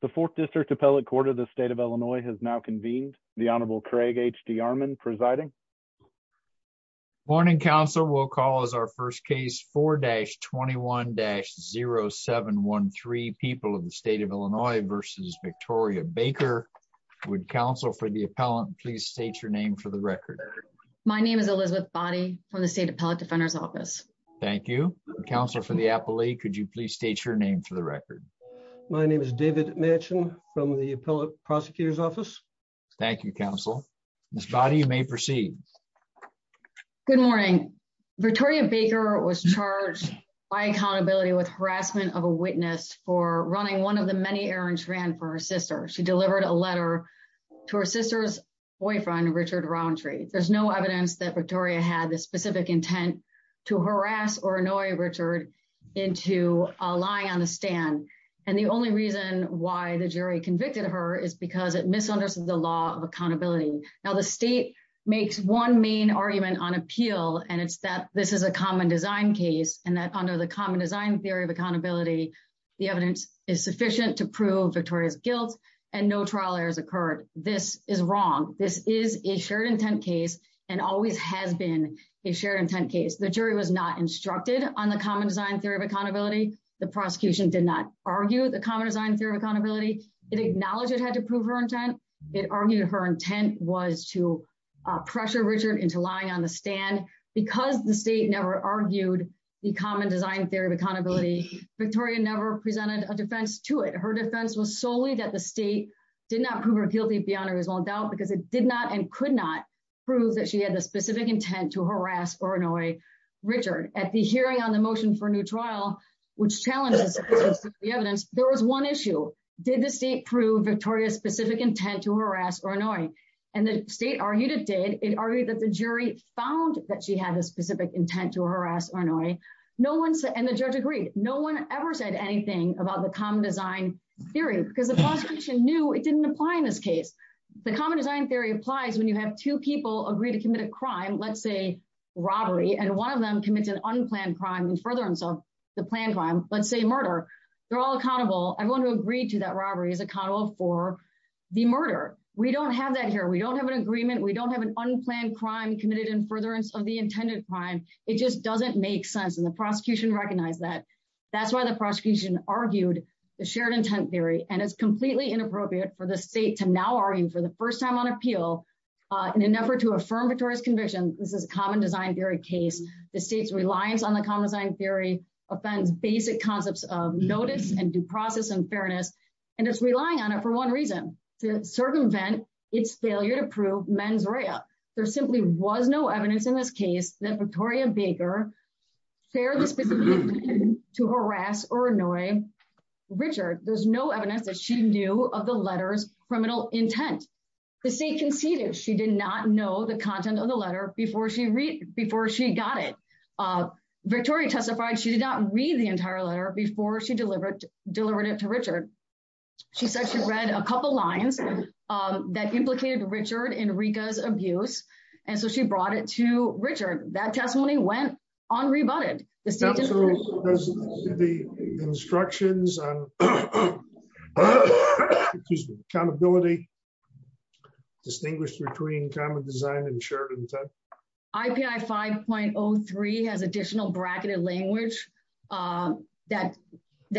The Fourth District Appellate Court of the State of Illinois has now convened. The Honorable Craig H.D. Armon presiding. Morning, counsel. We'll call as our first case 4-21-0713, People of the State of Illinois v. Victoria Baker. Would counsel for the appellant please state your name for the record? My name is Elizabeth Boddy from the State Appellate Defender's Office. Thank you. Counsel for the appellee, could you please state your name for the record? My name is David Manchin from the Appellate Prosecutor's Office. Thank you, counsel. Ms. Boddy, you may proceed. Good morning. Victoria Baker was charged by accountability with harassment of a witness for running one of the many errands ran for her sister. She delivered a letter to her sister's boyfriend, Richard Rountree. There's no evidence that Victoria had the and the only reason why the jury convicted her is because it misunderstood the law of accountability. Now, the state makes one main argument on appeal and it's that this is a common design case and that under the common design theory of accountability, the evidence is sufficient to prove Victoria's guilt and no trial errors occurred. This is wrong. This is a shared intent case and always has been a shared intent case. The jury was not instructed on the common design theory of accountability. The prosecution did not argue the common design theory of accountability. It acknowledged it had to prove her intent. It argued her intent was to pressure Richard into lying on the stand because the state never argued the common design theory of accountability. Victoria never presented a defense to it. Her defense was solely that the state did not prove her guilty beyond reasonable doubt because it did not and could not prove that she had the specific intent to harass or annoy Richard. At the hearing on the motion for a new trial, which challenges the evidence, there was one issue. Did the state prove Victoria's specific intent to harass or annoy? And the state argued it did. It argued that the jury found that she had a specific intent to harass or annoy. No one said, and the judge agreed, no one ever said anything about the common design theory because the prosecution knew it didn't apply in this case. The common design theory applies when you have two people agree to commit a crime, let's say robbery, and one of them commits an unplanned crime in furtherance of the planned crime, let's say murder. They're all accountable. Everyone who agreed to that robbery is accountable for the murder. We don't have that here. We don't have an agreement. We don't have an unplanned crime committed in furtherance of the intended crime. It just doesn't make sense and the prosecution recognized that. That's why the prosecution argued the shared intent theory and it's completely inappropriate for the state to now argue for the first time on appeal in an effort to affirm Victoria's conviction. This is a common design theory case. The state's reliance on the common design theory offends basic concepts of notice and due process and fairness, and it's relying on it for one reason, to circumvent its failure to prove mens rea. There simply was no evidence in this case that Victoria Baker shared the specific intent to she knew of the letter's criminal intent. The state conceded she did not know the content of the letter before she got it. Victoria testified she did not read the entire letter before she delivered it to Richard. She said she read a couple lines that implicated Richard Enrica's abuse, and so she brought it to Richard. That testimony went unrebutted. Does the instructions on accountability distinguish between common design and shared intent? IPI 5.03 has additional bracketed language that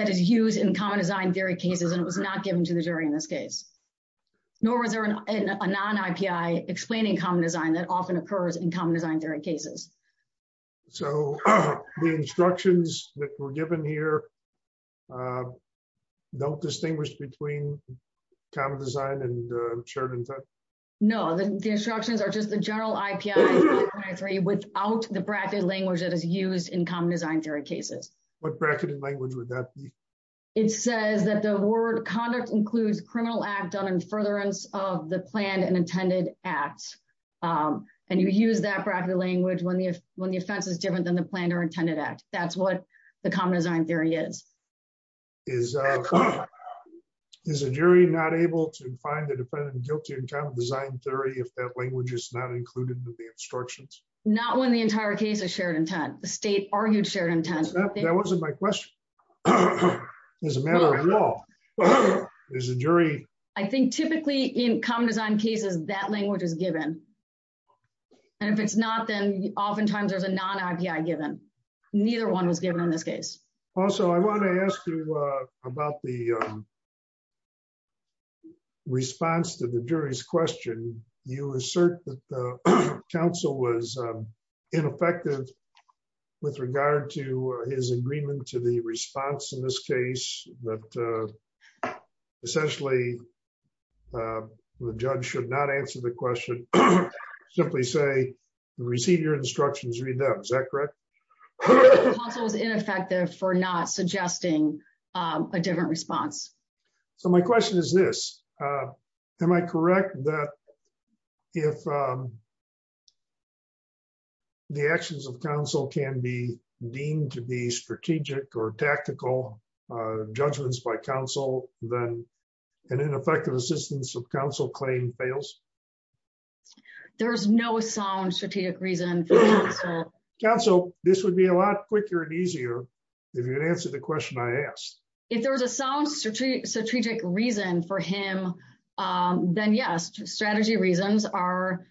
is used in common design theory cases, and it was not given to the jury in this case. Nor is there a non-IPI explaining common design that often occurs in common design theory cases. So the instructions that were given here don't distinguish between common design and shared intent? No. The instructions are just the general IPI 5.03 without the bracketed language that is used in common design theory cases. What bracketed language would that be? It says that the word conduct includes criminal act done in furtherance of the planned and intended act, and you use that bracketed language when the offense is different than the planned or intended act. That's what the common design theory is. Is a jury not able to find a defendant guilty in common design theory if that language is not included in the instructions? Not when the entire case is shared intent. The I think typically in common design cases, that language is given, and if it's not, then oftentimes there's a non-IPI given. Neither one was given in this case. Also, I want to ask you about the response to the jury's question. You assert that the counsel was ineffective with regard to his agreement to the response in this case, but essentially the judge should not answer the question. Simply say, receive your instructions, read them. Is that correct? Counsel was ineffective for not suggesting a different response. So my question is this. Am I correct that if the actions of counsel can be deemed to be strategic or tactical judgments by counsel, then an ineffective assistance of counsel claim fails? There's no sound strategic reason for counsel. Counsel, this would be a lot quicker and easier if you could answer the question I asked. If there was a sound strategic reason for him, then yes, strategy reasons are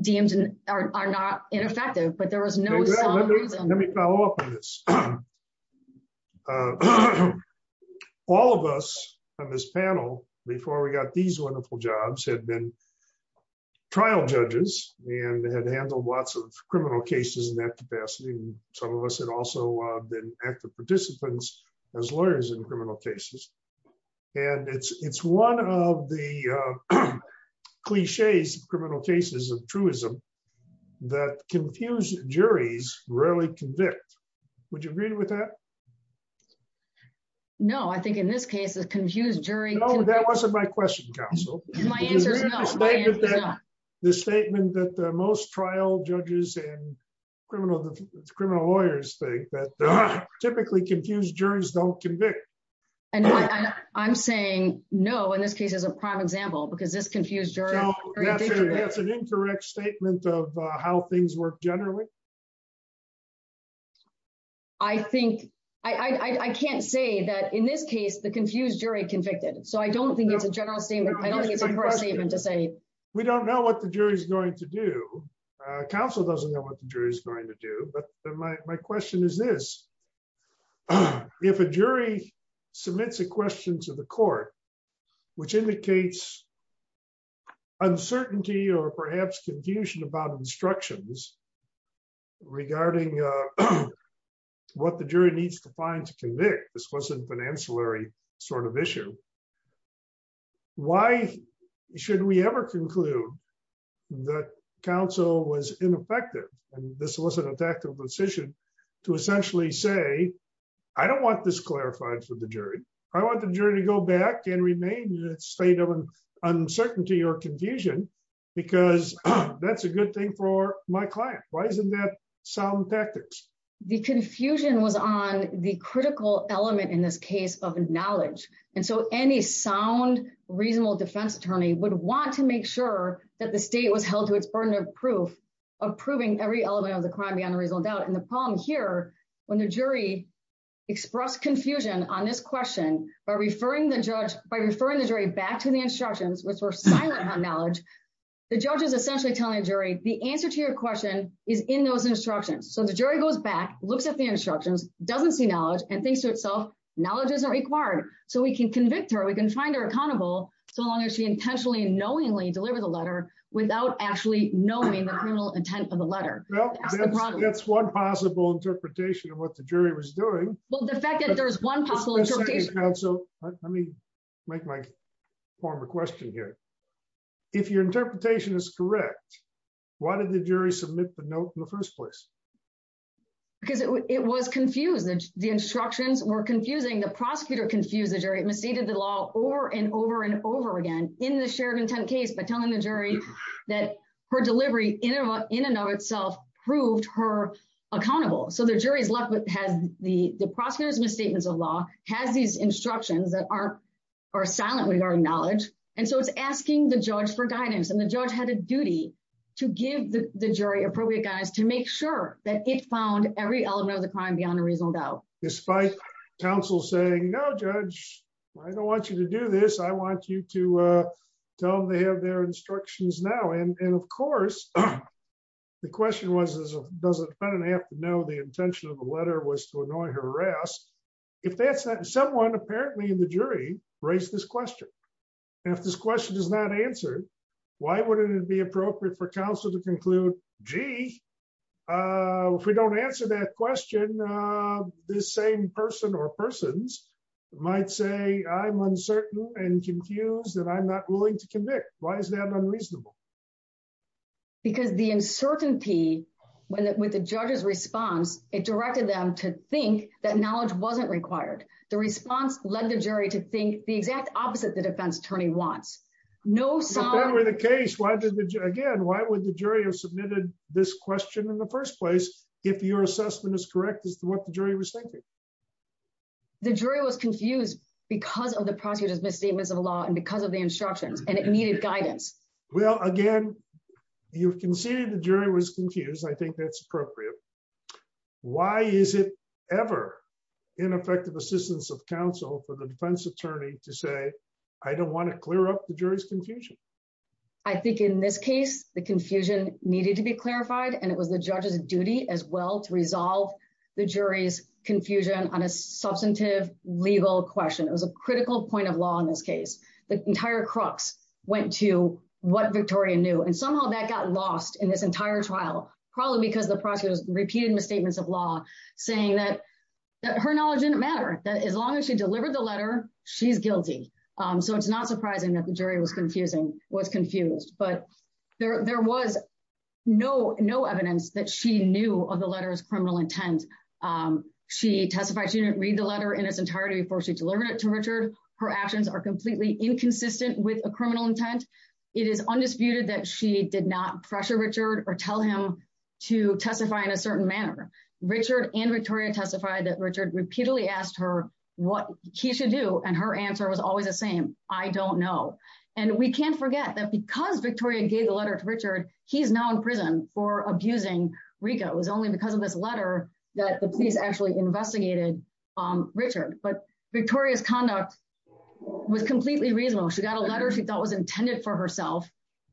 deemed and are not ineffective, but there was no sound reason. Let me follow up on this. All of us on this panel before we got these wonderful jobs had been trial judges and had handled lots of criminal cases in that capacity. Some of us had also been active participants as lawyers in criminal cases. And it's one of the cliches of criminal cases of truism that confused juries rarely convict. Would you agree with that? No, I think in this case, the confused jury... No, that wasn't my question, counsel. My answer is no. My answer is no. The statement that most trial judges and criminal lawyers think that typically confused juries don't convict. And I'm saying no, in this case, as a prime example, because this confused jury... That's an incorrect statement of how things work generally. I think... I can't say that in this case, the confused jury convicted. So I don't think it's an incorrect statement to say... We don't know what the jury is going to do. Counsel doesn't know what the jury is going to do. But my question is this. If a jury submits a question to the court, which indicates uncertainty or perhaps confusion about instructions regarding what the jury needs to find to convict, this wasn't a financial sort of issue. Why should we ever conclude that counsel was ineffective? And this wasn't a tactical decision to essentially say, I don't want this clarified for the jury. I want the jury to go back and remain in a state of uncertainty or confusion, because that's a good thing for my client. Why isn't that sound tactics? The confusion was on the critical element in this case of knowledge. And so any sound, reasonable defense attorney would want to make sure that the state was held to its burden of proof of proving every element of the crime beyond a reasonable doubt. And the problem here, when the jury expressed confusion on this question by referring the judge... By referring the jury back to the instructions, which were silent on knowledge, the judge is essentially telling the jury, the answer to your question is in those instructions. So the jury goes back, looks at the instructions, doesn't see knowledge, and thinks to knowledge isn't required. So we can convict her, we can find her accountable, so long as she intentionally and knowingly deliver the letter without actually knowing the criminal intent of the letter. Well, that's one possible interpretation of what the jury was doing. Well, the fact that there's one possible interpretation... So let me make my former question here. If your interpretation is correct, why did the jury submit the note in the first place? Because it was confused. The instructions were confusing. The prosecutor confused the jury. It misstated the law over and over and over again in the shared intent case by telling the jury that her delivery in and of itself proved her accountable. So the jury is left with... The prosecutor's misstatements of law has these instructions that are silent regarding knowledge. And so it's asking the judge for guidance. And the judge had a duty to give the jury appropriate guidance to make sure that it was a crime beyond a reasonable doubt. Despite counsel saying, no, judge, I don't want you to do this. I want you to tell them they have their instructions now. And of course, the question was, does the defendant have to know the intention of the letter was to annoy her arrest? If that's that, someone apparently in the jury raised this question. And if this question is not answered, why wouldn't it be appropriate for counsel to conclude, gee, if we don't answer that question, this same person or persons might say, I'm uncertain and confused that I'm not willing to convict. Why is that unreasonable? Because the uncertainty with the judge's response, it directed them to think that knowledge wasn't required. The response led the jury to think the exact opposite the defense attorney wants. If that were the case, again, why would the jury have to do that? The jury was confused because of the prosecutor's misstatements of law and because of the instructions and it needed guidance. Well, again, you've conceded the jury was confused. I think that's appropriate. Why is it ever ineffective assistance of counsel for the defense attorney to say, I don't want to clear up the jury's confusion? I think in this case, the confusion needed to be clarified. And it was the judge's duty as to resolve the jury's confusion on a substantive legal question. It was a critical point of law in this case. The entire crux went to what Victoria knew. And somehow that got lost in this entire trial, probably because the prosecutor's repeated misstatements of law saying that her knowledge didn't matter, that as long as she delivered the letter, she's guilty. So it's not surprising that the jury was confused. But there was no evidence that she knew of the letters criminal intent. She testified she didn't read the letter in its entirety before she delivered it to Richard. Her actions are completely inconsistent with a criminal intent. It is undisputed that she did not pressure Richard or tell him to testify in a certain manner. Richard and Victoria testified that Richard repeatedly asked her what he should do. And her answer was always the same. I don't know. And we can't forget that because Victoria gave the letter to Richard, he's now in prison for abusing Rika. It was only because of this letter that the police actually investigated Richard. But Victoria's conduct was completely reasonable. She got a letter she thought was intended for herself.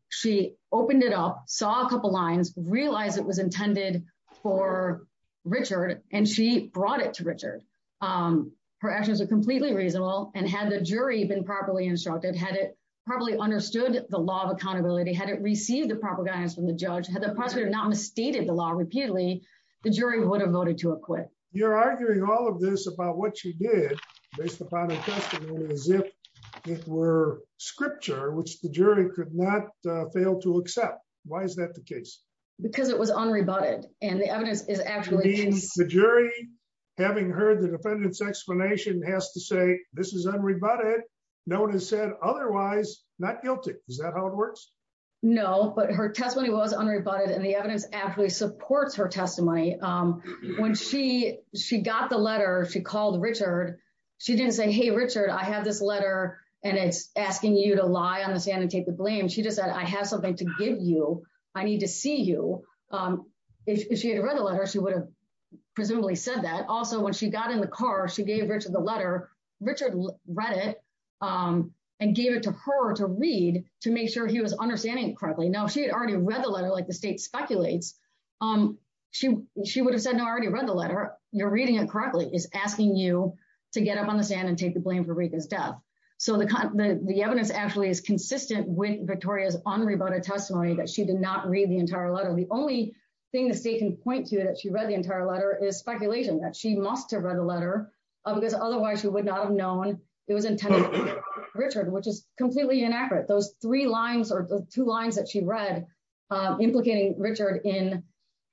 She opened it up, saw a couple lines, realized it was intended for Richard, and she brought it to Richard. Her actions were completely reasonable. And had the jury been properly instructed, had it properly understood the law of accountability, had it received the proper guidance from the judge, had the prosecutor not misstated the law repeatedly, the jury would have voted to acquit. You're arguing all of this about what she did based upon her testimony as if it were scripture, which the jury could not fail to accept. Why is that the case? Because it was unrebutted. And the evidence is actually the jury. Having heard the defendant's explanation has to say this is unrebutted. No one has said otherwise. Not guilty. Is that how it works? No, but her testimony was unrebutted and the evidence actually supports her testimony. When she got the letter, she called Richard. She didn't say, hey, Richard, I have this letter and it's asking you to lie on the stand and take the blame. She just said, I have something to give you. I need to see you. If she had read the letter, she would have presumably said that. Also, when she got in the car, she gave Richard the letter to read to make sure he was understanding it correctly. Now, if she had already read the letter, like the state speculates, she would have said, no, I already read the letter. You're reading it correctly. It's asking you to get up on the stand and take the blame for Rika's death. So the evidence actually is consistent with Victoria's unrebutted testimony that she did not read the entire letter. The only thing the state can point to that she read the entire letter is speculation that she must have read the letter because otherwise she would not have known it was completely inaccurate. Those three lines or the two lines that she read implicating Richard in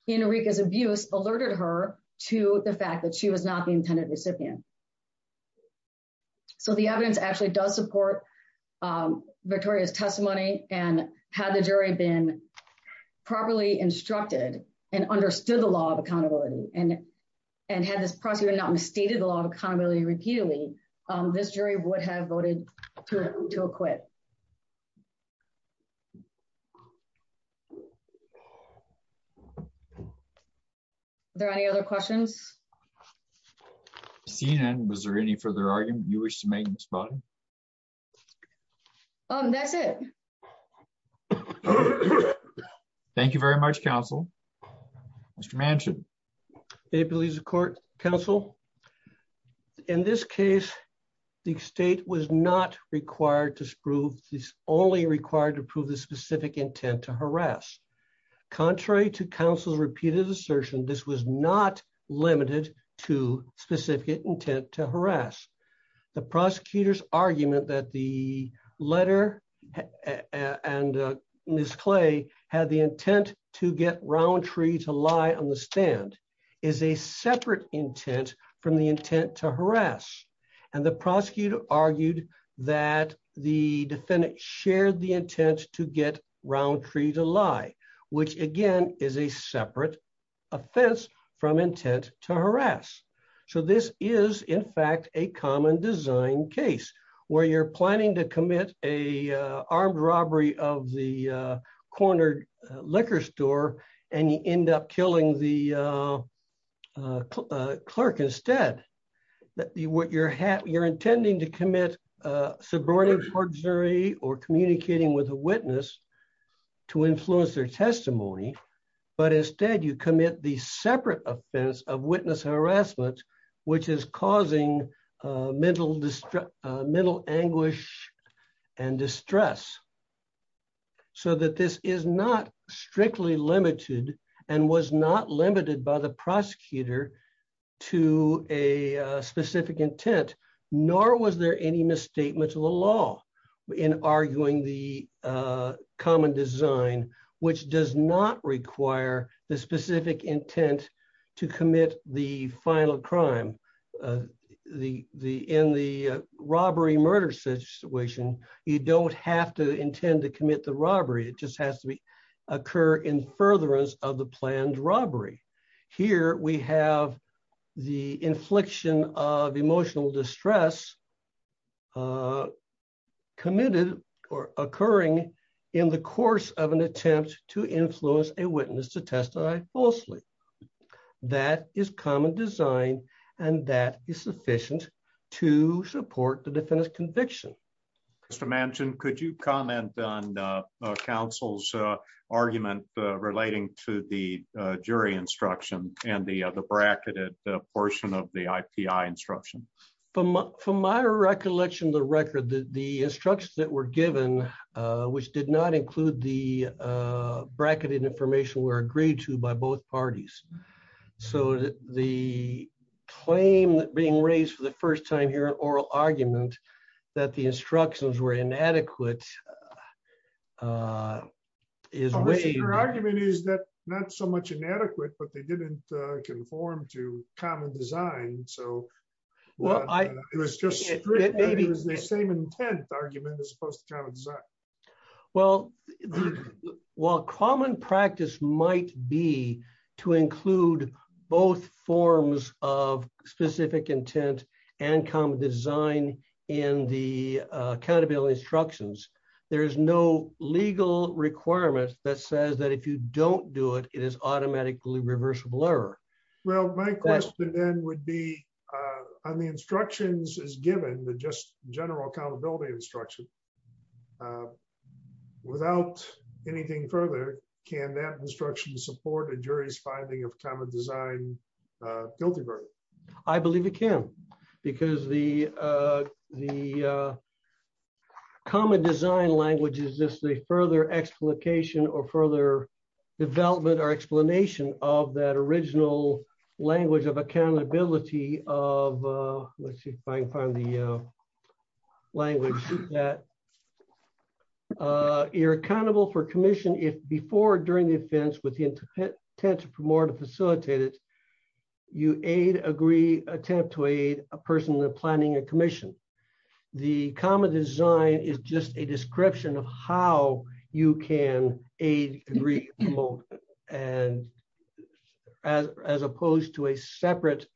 Rika's abuse alerted her to the fact that she was not the intended recipient. So the evidence actually does support Victoria's testimony and had the jury been properly instructed and understood the law of accountability and had this prosecutor not stated the law of accountability repeatedly, this jury would have voted to acquit. Are there any other questions? Seeing none, was there any further argument you wish to make, Ms. Vaughn? That's it. Thank you very much, counsel. Mr. Manchin. May it please the court, counsel. In this case, the state was not required to prove this, only required to prove the specific intent to harass. Contrary to counsel's repeated assertion, this was not limited to specific intent to harass. The prosecutor's argument that the is a separate intent from the intent to harass. And the prosecutor argued that the defendant shared the intent to get Roundtree to lie, which again is a separate offense from intent to harass. So this is, in fact, a common design case where you're planning to commit a armed robbery of the liquor store and you end up killing the clerk instead. You're intending to commit subordination to a jury or communicating with a witness to influence their testimony, but instead you commit the separate offense of witness harassment, which is causing mental mental anguish and distress. So that this is not strictly limited and was not limited by the prosecutor to a specific intent, nor was there any misstatement of the law in arguing the common design, which does not require the specific intent to commit the final crime. In the robbery murder situation, you don't have to intend to commit the robbery. It just has to occur in furtherance of the planned robbery. Here we have the infliction of emotional distress uh committed or occurring in the course of an attempt to influence a witness to testify falsely. That is common design and that is sufficient to support the defendant's conviction. Mr. Manchin, could you comment on uh counsel's uh argument relating to the jury instruction and the uh the bracketed portion of the IPI instruction? From my recollection of the record, the instructions that were given uh which did not include the uh bracketed information were agreed to by both parties. So the claim that being raised for the first time here an oral argument that the instructions were inadequate uh is your argument is that not so much inadequate, but they didn't conform to common design. So well, it was just the same intent argument as opposed to common design. Well, while common practice might be to include both forms of specific intent and common design in the accountability instructions, there is no requirement that says that if you don't do it, it is automatically reversible error. Well, my question then would be uh on the instructions as given the just general accountability instruction uh without anything further, can that instruction support a jury's finding of common design uh guilty verdict? I believe it can because the uh the uh common design language is just a further explication or further development or explanation of that original language of accountability of uh let's see if I can find the uh language that uh you're accountable for commission if before or during the offense with the intent to promote or facilitate it, you aid agree attempt to aid a person planning a commission. The common design is just a description of how you can aid agree and as as opposed to a separate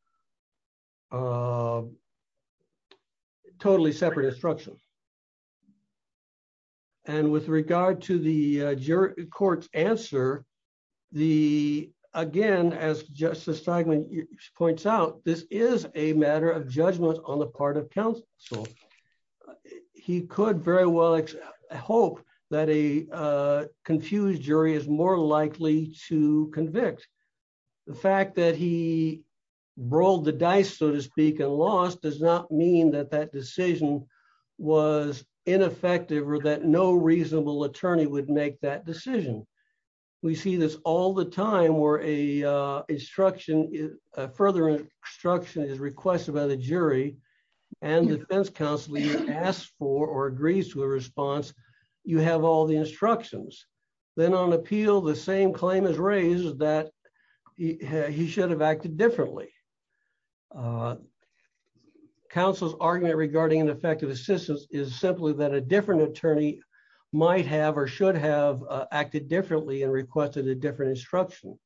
uh totally separate instruction. And with regard to the jury court's answer, the again as Justice Steigman points out, this is a matter of judgment on the part of counsel. He could very well hope that a uh confused jury is more likely to convict. The fact that he rolled the dice so to speak and lost does not mean that that decision was ineffective or that no reasonable attorney would make that decision. We see this all the time where a uh instruction further instruction is requested by the jury and defense counsel asks for or agrees to a response, you have all the instructions. Then on appeal, the same claim is raised that he should have acted differently. Uh counsel's argument regarding ineffective assistance is simply that a different attorney might have or should have acted differently and requested a different instruction.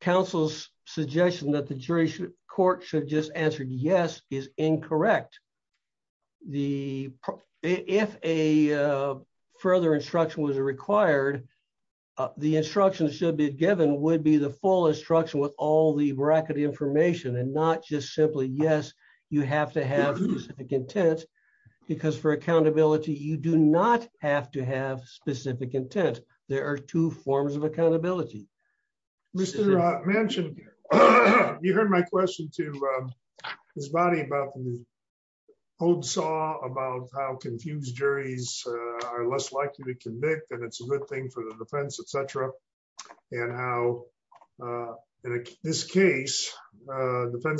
Counsel's suggestion that the jury should court should just answer yes is incorrect. The if a further instruction was required, the instructions should be given would be the full instruction with all the bracket information and not just simply yes you have to have specific intent because for accountability you do not have to have specific intent. There are two forms of accountability. Mr uh Manchin, you heard my question to his body about the old saw about how confused juries are less likely to convict and it's a good thing for defense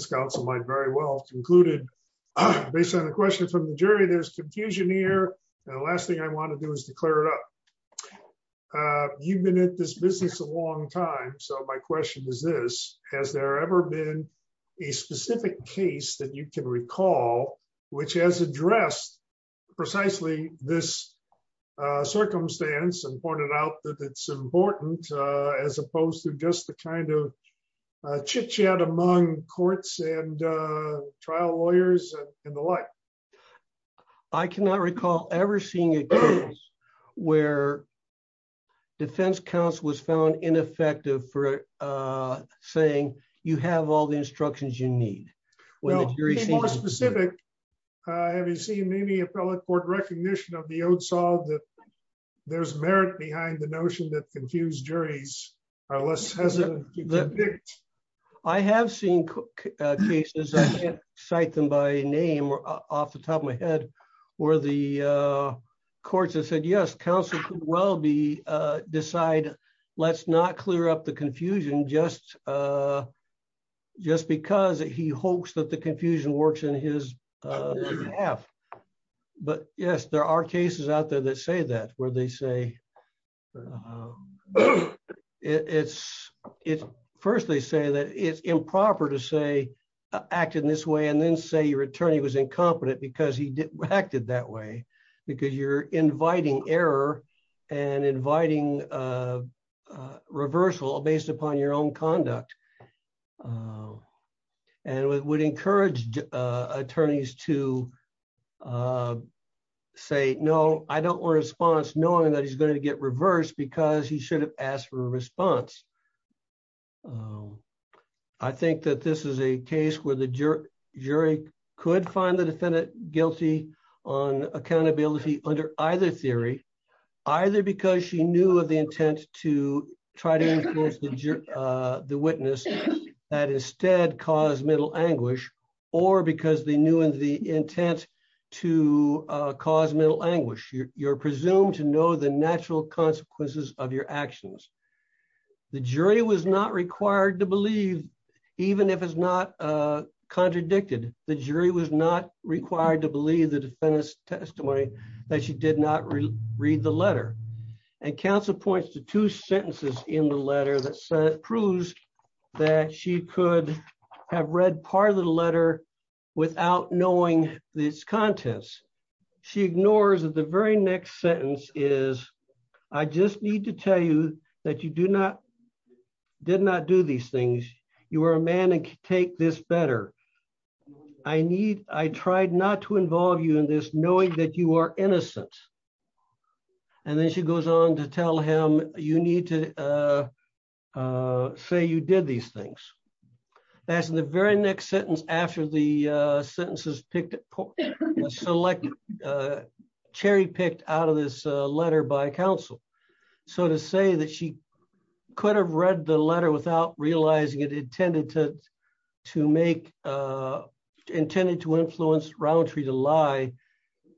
counsel might very well concluded based on the question from the jury there's confusion here and the last thing I want to do is to clear it up. Uh you've been in this business a long time so my question is this has there ever been a specific case that you can recall which has addressed precisely this uh circumstance and pointed out that it's important uh as opposed to just the kind of uh chit chat among courts and uh trial lawyers and the like. I cannot recall ever seeing a case where defense counsel was found ineffective for uh saying you have all the instructions you need. Well more specific uh have you seen any appellate court recognition of the I have seen uh cases I can't cite them by name or off the top of my head where the uh courts have said yes counsel could well be uh decide let's not clear up the confusion just uh just because he hopes that the confusion works in his uh behalf but yes there are cases out there that say that where they say it's it's first they say that it's improper to say act in this way and then say your attorney was incompetent because he acted that way because you're inviting error and inviting uh reversal based upon your own conduct um and would encourage attorneys to uh say no I don't want a response knowing that he's going to get reversed because he should have asked for a response. I think that this is a case where the jury could find the defendant guilty on accountability under either theory either because she knew of the intent to try to influence the witness that instead caused mental anguish or because they knew of the intent to cause mental anguish. You're presumed to know the natural consequences of your actions. The jury was not required to believe even if it's not uh contradicted the jury was not required to believe the defendant's testimony that she did not read the letter and counsel points to two sentences in the letter that proves that she could have read part of the letter without knowing these contents. She ignores that the very next sentence is I just need to tell you that you do not did not do these things. You are a man and can take this better. I need I tried not to involve you in this knowing that you are innocent and then she goes on to tell him you need to uh uh say you did these things. That's the very next sentence after the uh sentences picked up selected uh cherry picked out of this uh letter by counsel. So to say that she could have read the letter without realizing it intended to to make uh intended to influence Rowntree to lie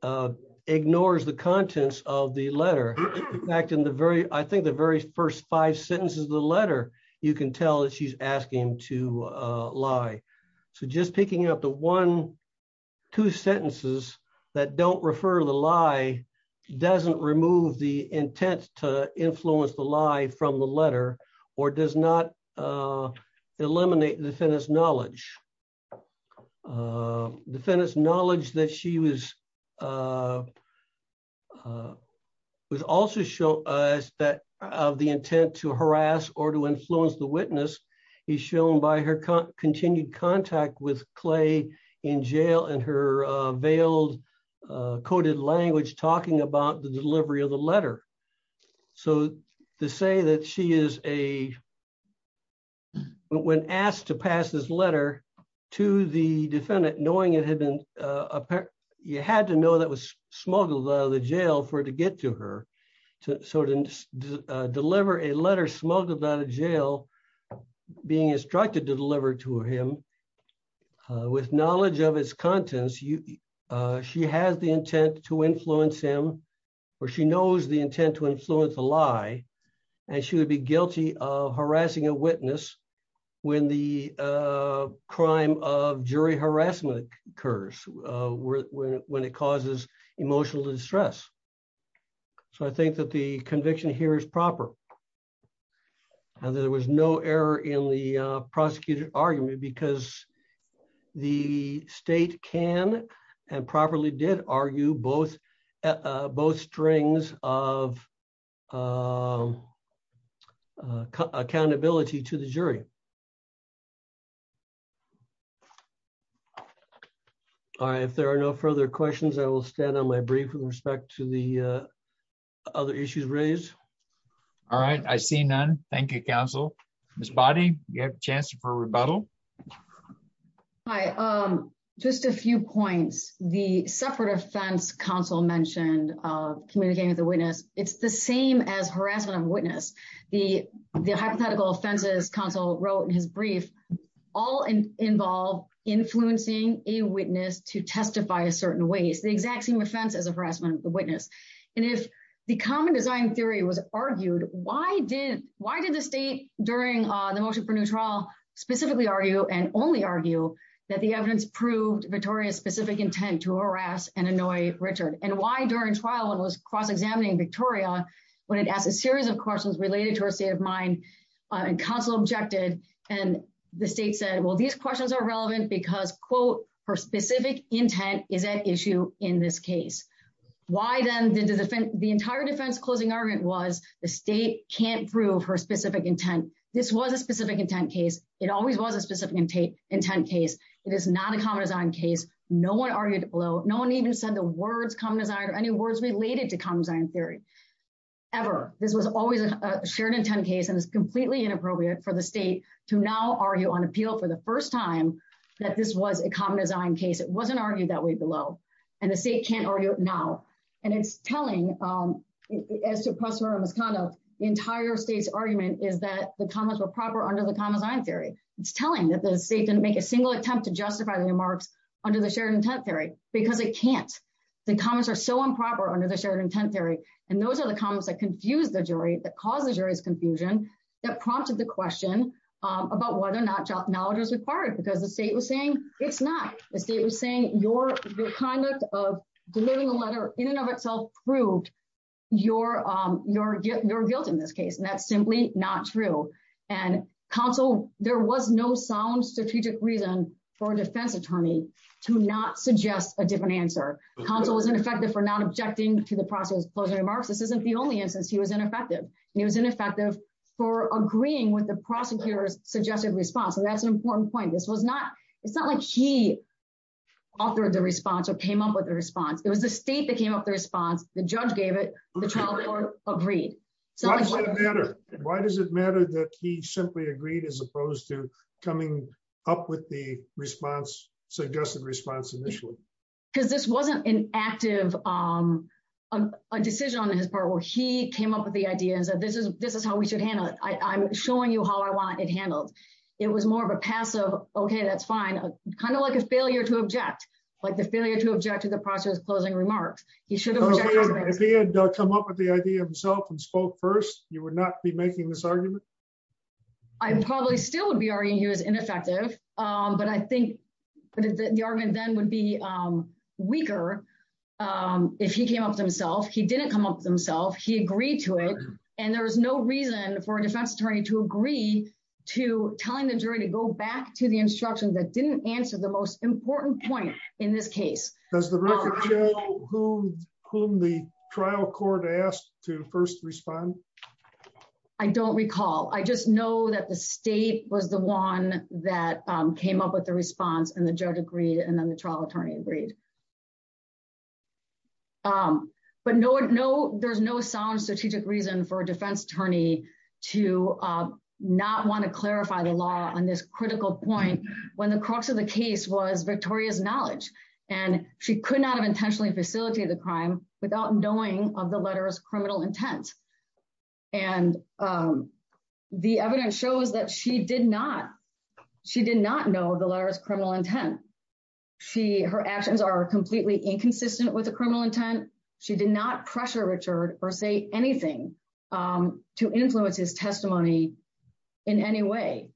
uh ignores the contents of the letter. In fact in the very I think the very first five sentences of the letter you can tell that she's asking him to uh lie. So just picking up the one two sentences that don't refer to the lie doesn't remove the intent to influence the lie from the letter or does not uh eliminate defendant's knowledge. Defendant's knowledge that she was uh was also show us that of the intent to harass or to influence the witness is shown by her continued contact with Clay in jail and her uh veiled uh coded language talking about the delivery of the letter. So to say that she is a when asked to pass this letter to the defendant knowing it had been uh you had to know that was smuggled out of the jail for it to get to her so to deliver a letter smuggled out of jail being instructed to deliver to him with knowledge of its contents you uh she has the intent to influence him or she knows the intent to influence a lie and she would be guilty of harassing a witness when the uh crime of jury conviction here is proper and there was no error in the uh prosecuted argument because the state can and properly did argue both uh both strings of uh accountability to the jury. All right if there are no further questions I will stand on my brief with respect to the other issues raised. All right I see none thank you counsel. Ms. Boddy you have a chance for rebuttal. Hi um just a few points the separate offense counsel mentioned uh communicating with the witness it's the same as harassment of witness the the hypothetical offenses counsel wrote in his brief all involve influencing a witness to testify a certain ways the exact same offense as a witness and if the common design theory was argued why did why did the state during the motion for new trial specifically argue and only argue that the evidence proved Victoria's specific intent to harass and annoy Richard and why during trial one was cross-examining Victoria when it asked a series of questions related to her state of mind and counsel objected and the state said well these questions are relevant because quote her specific intent is at issue in this case why then the defense the entire defense closing argument was the state can't prove her specific intent this was a specific intent case it always was a specific intent intent case it is not a common design case no one argued below no one even said the words common design or any words related to common design theory ever this was always a shared intent case and it's completely inappropriate for the state to now argue on appeal for the first time that this was a common design case it wasn't argued that way below and the state can't argue now and it's telling um as to prosper and misconduct the entire state's argument is that the comments were proper under the common design theory it's telling that the state didn't make a single attempt to justify the remarks under the shared intent theory because it can't the comments are so improper under the shared intent theory and those are the comments that confuse the jury that confusion that prompted the question um about whether or not knowledge is required because the state was saying it's not the state was saying your your conduct of delivering a letter in and of itself proved your um your guilt in this case and that's simply not true and counsel there was no sound strategic reason for a defense attorney to not suggest a different answer counsel was ineffective for not objecting to the process of closing remarks this isn't the only instance he was ineffective he was ineffective for agreeing with the prosecutor's suggested response so that's an important point this was not it's not like he authored the response or came up with a response it was the state that came up the response the judge gave it the trial court agreed so why does it matter that he simply agreed as opposed to coming up with the response suggested response because this wasn't an active um a decision on his part where he came up with the idea and said this is this is how we should handle it i'm showing you how i want it handled it was more of a passive okay that's fine kind of like a failure to object like the failure to object to the process closing remarks he should have come up with the idea himself and spoke first you would not be making this argument i probably still would be arguing he was ineffective um but i think the argument then would be um weaker um if he came up with himself he didn't come up with himself he agreed to it and there was no reason for a defense attorney to agree to telling the jury to go back to the instruction that didn't answer the most important point in this case does the record show who whom the trial court asked to first respond i don't recall i just know that the state was the one that came up with the response and the judge agreed and then the trial attorney agreed um but no no there's no sound strategic reason for a defense attorney to not want to clarify the law on this critical point when the crux of the case was victoria's knowledge and she could not have intentionally facilitated the crime without knowing of the letter's criminal intent and um the evidence shows that she did not she did not know the letter's criminal intent she her actions are completely inconsistent with the criminal intent she did not pressure richard or say anything um to influence his testimony in any way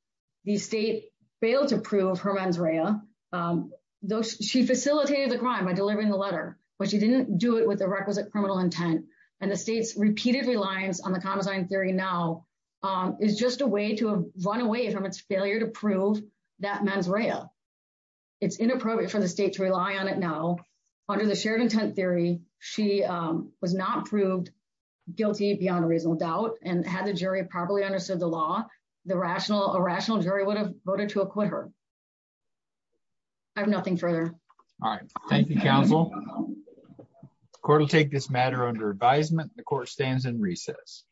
the state failed to prove her mens rea um though she facilitated the crime by delivering the letter but she didn't do it with the requisite criminal intent and the state's repeated reliance on the condescending theory now um is just a way to run away from its failure to prove that mens rea it's inappropriate for the state to rely on it now under the shared intent theory she um was not proved guilty beyond a reasonable doubt and had the jury properly understood the law the rational irrational jury would have voted to acquit her i have nothing further all right thank you counsel court will take this matter under advisement the court stands in recess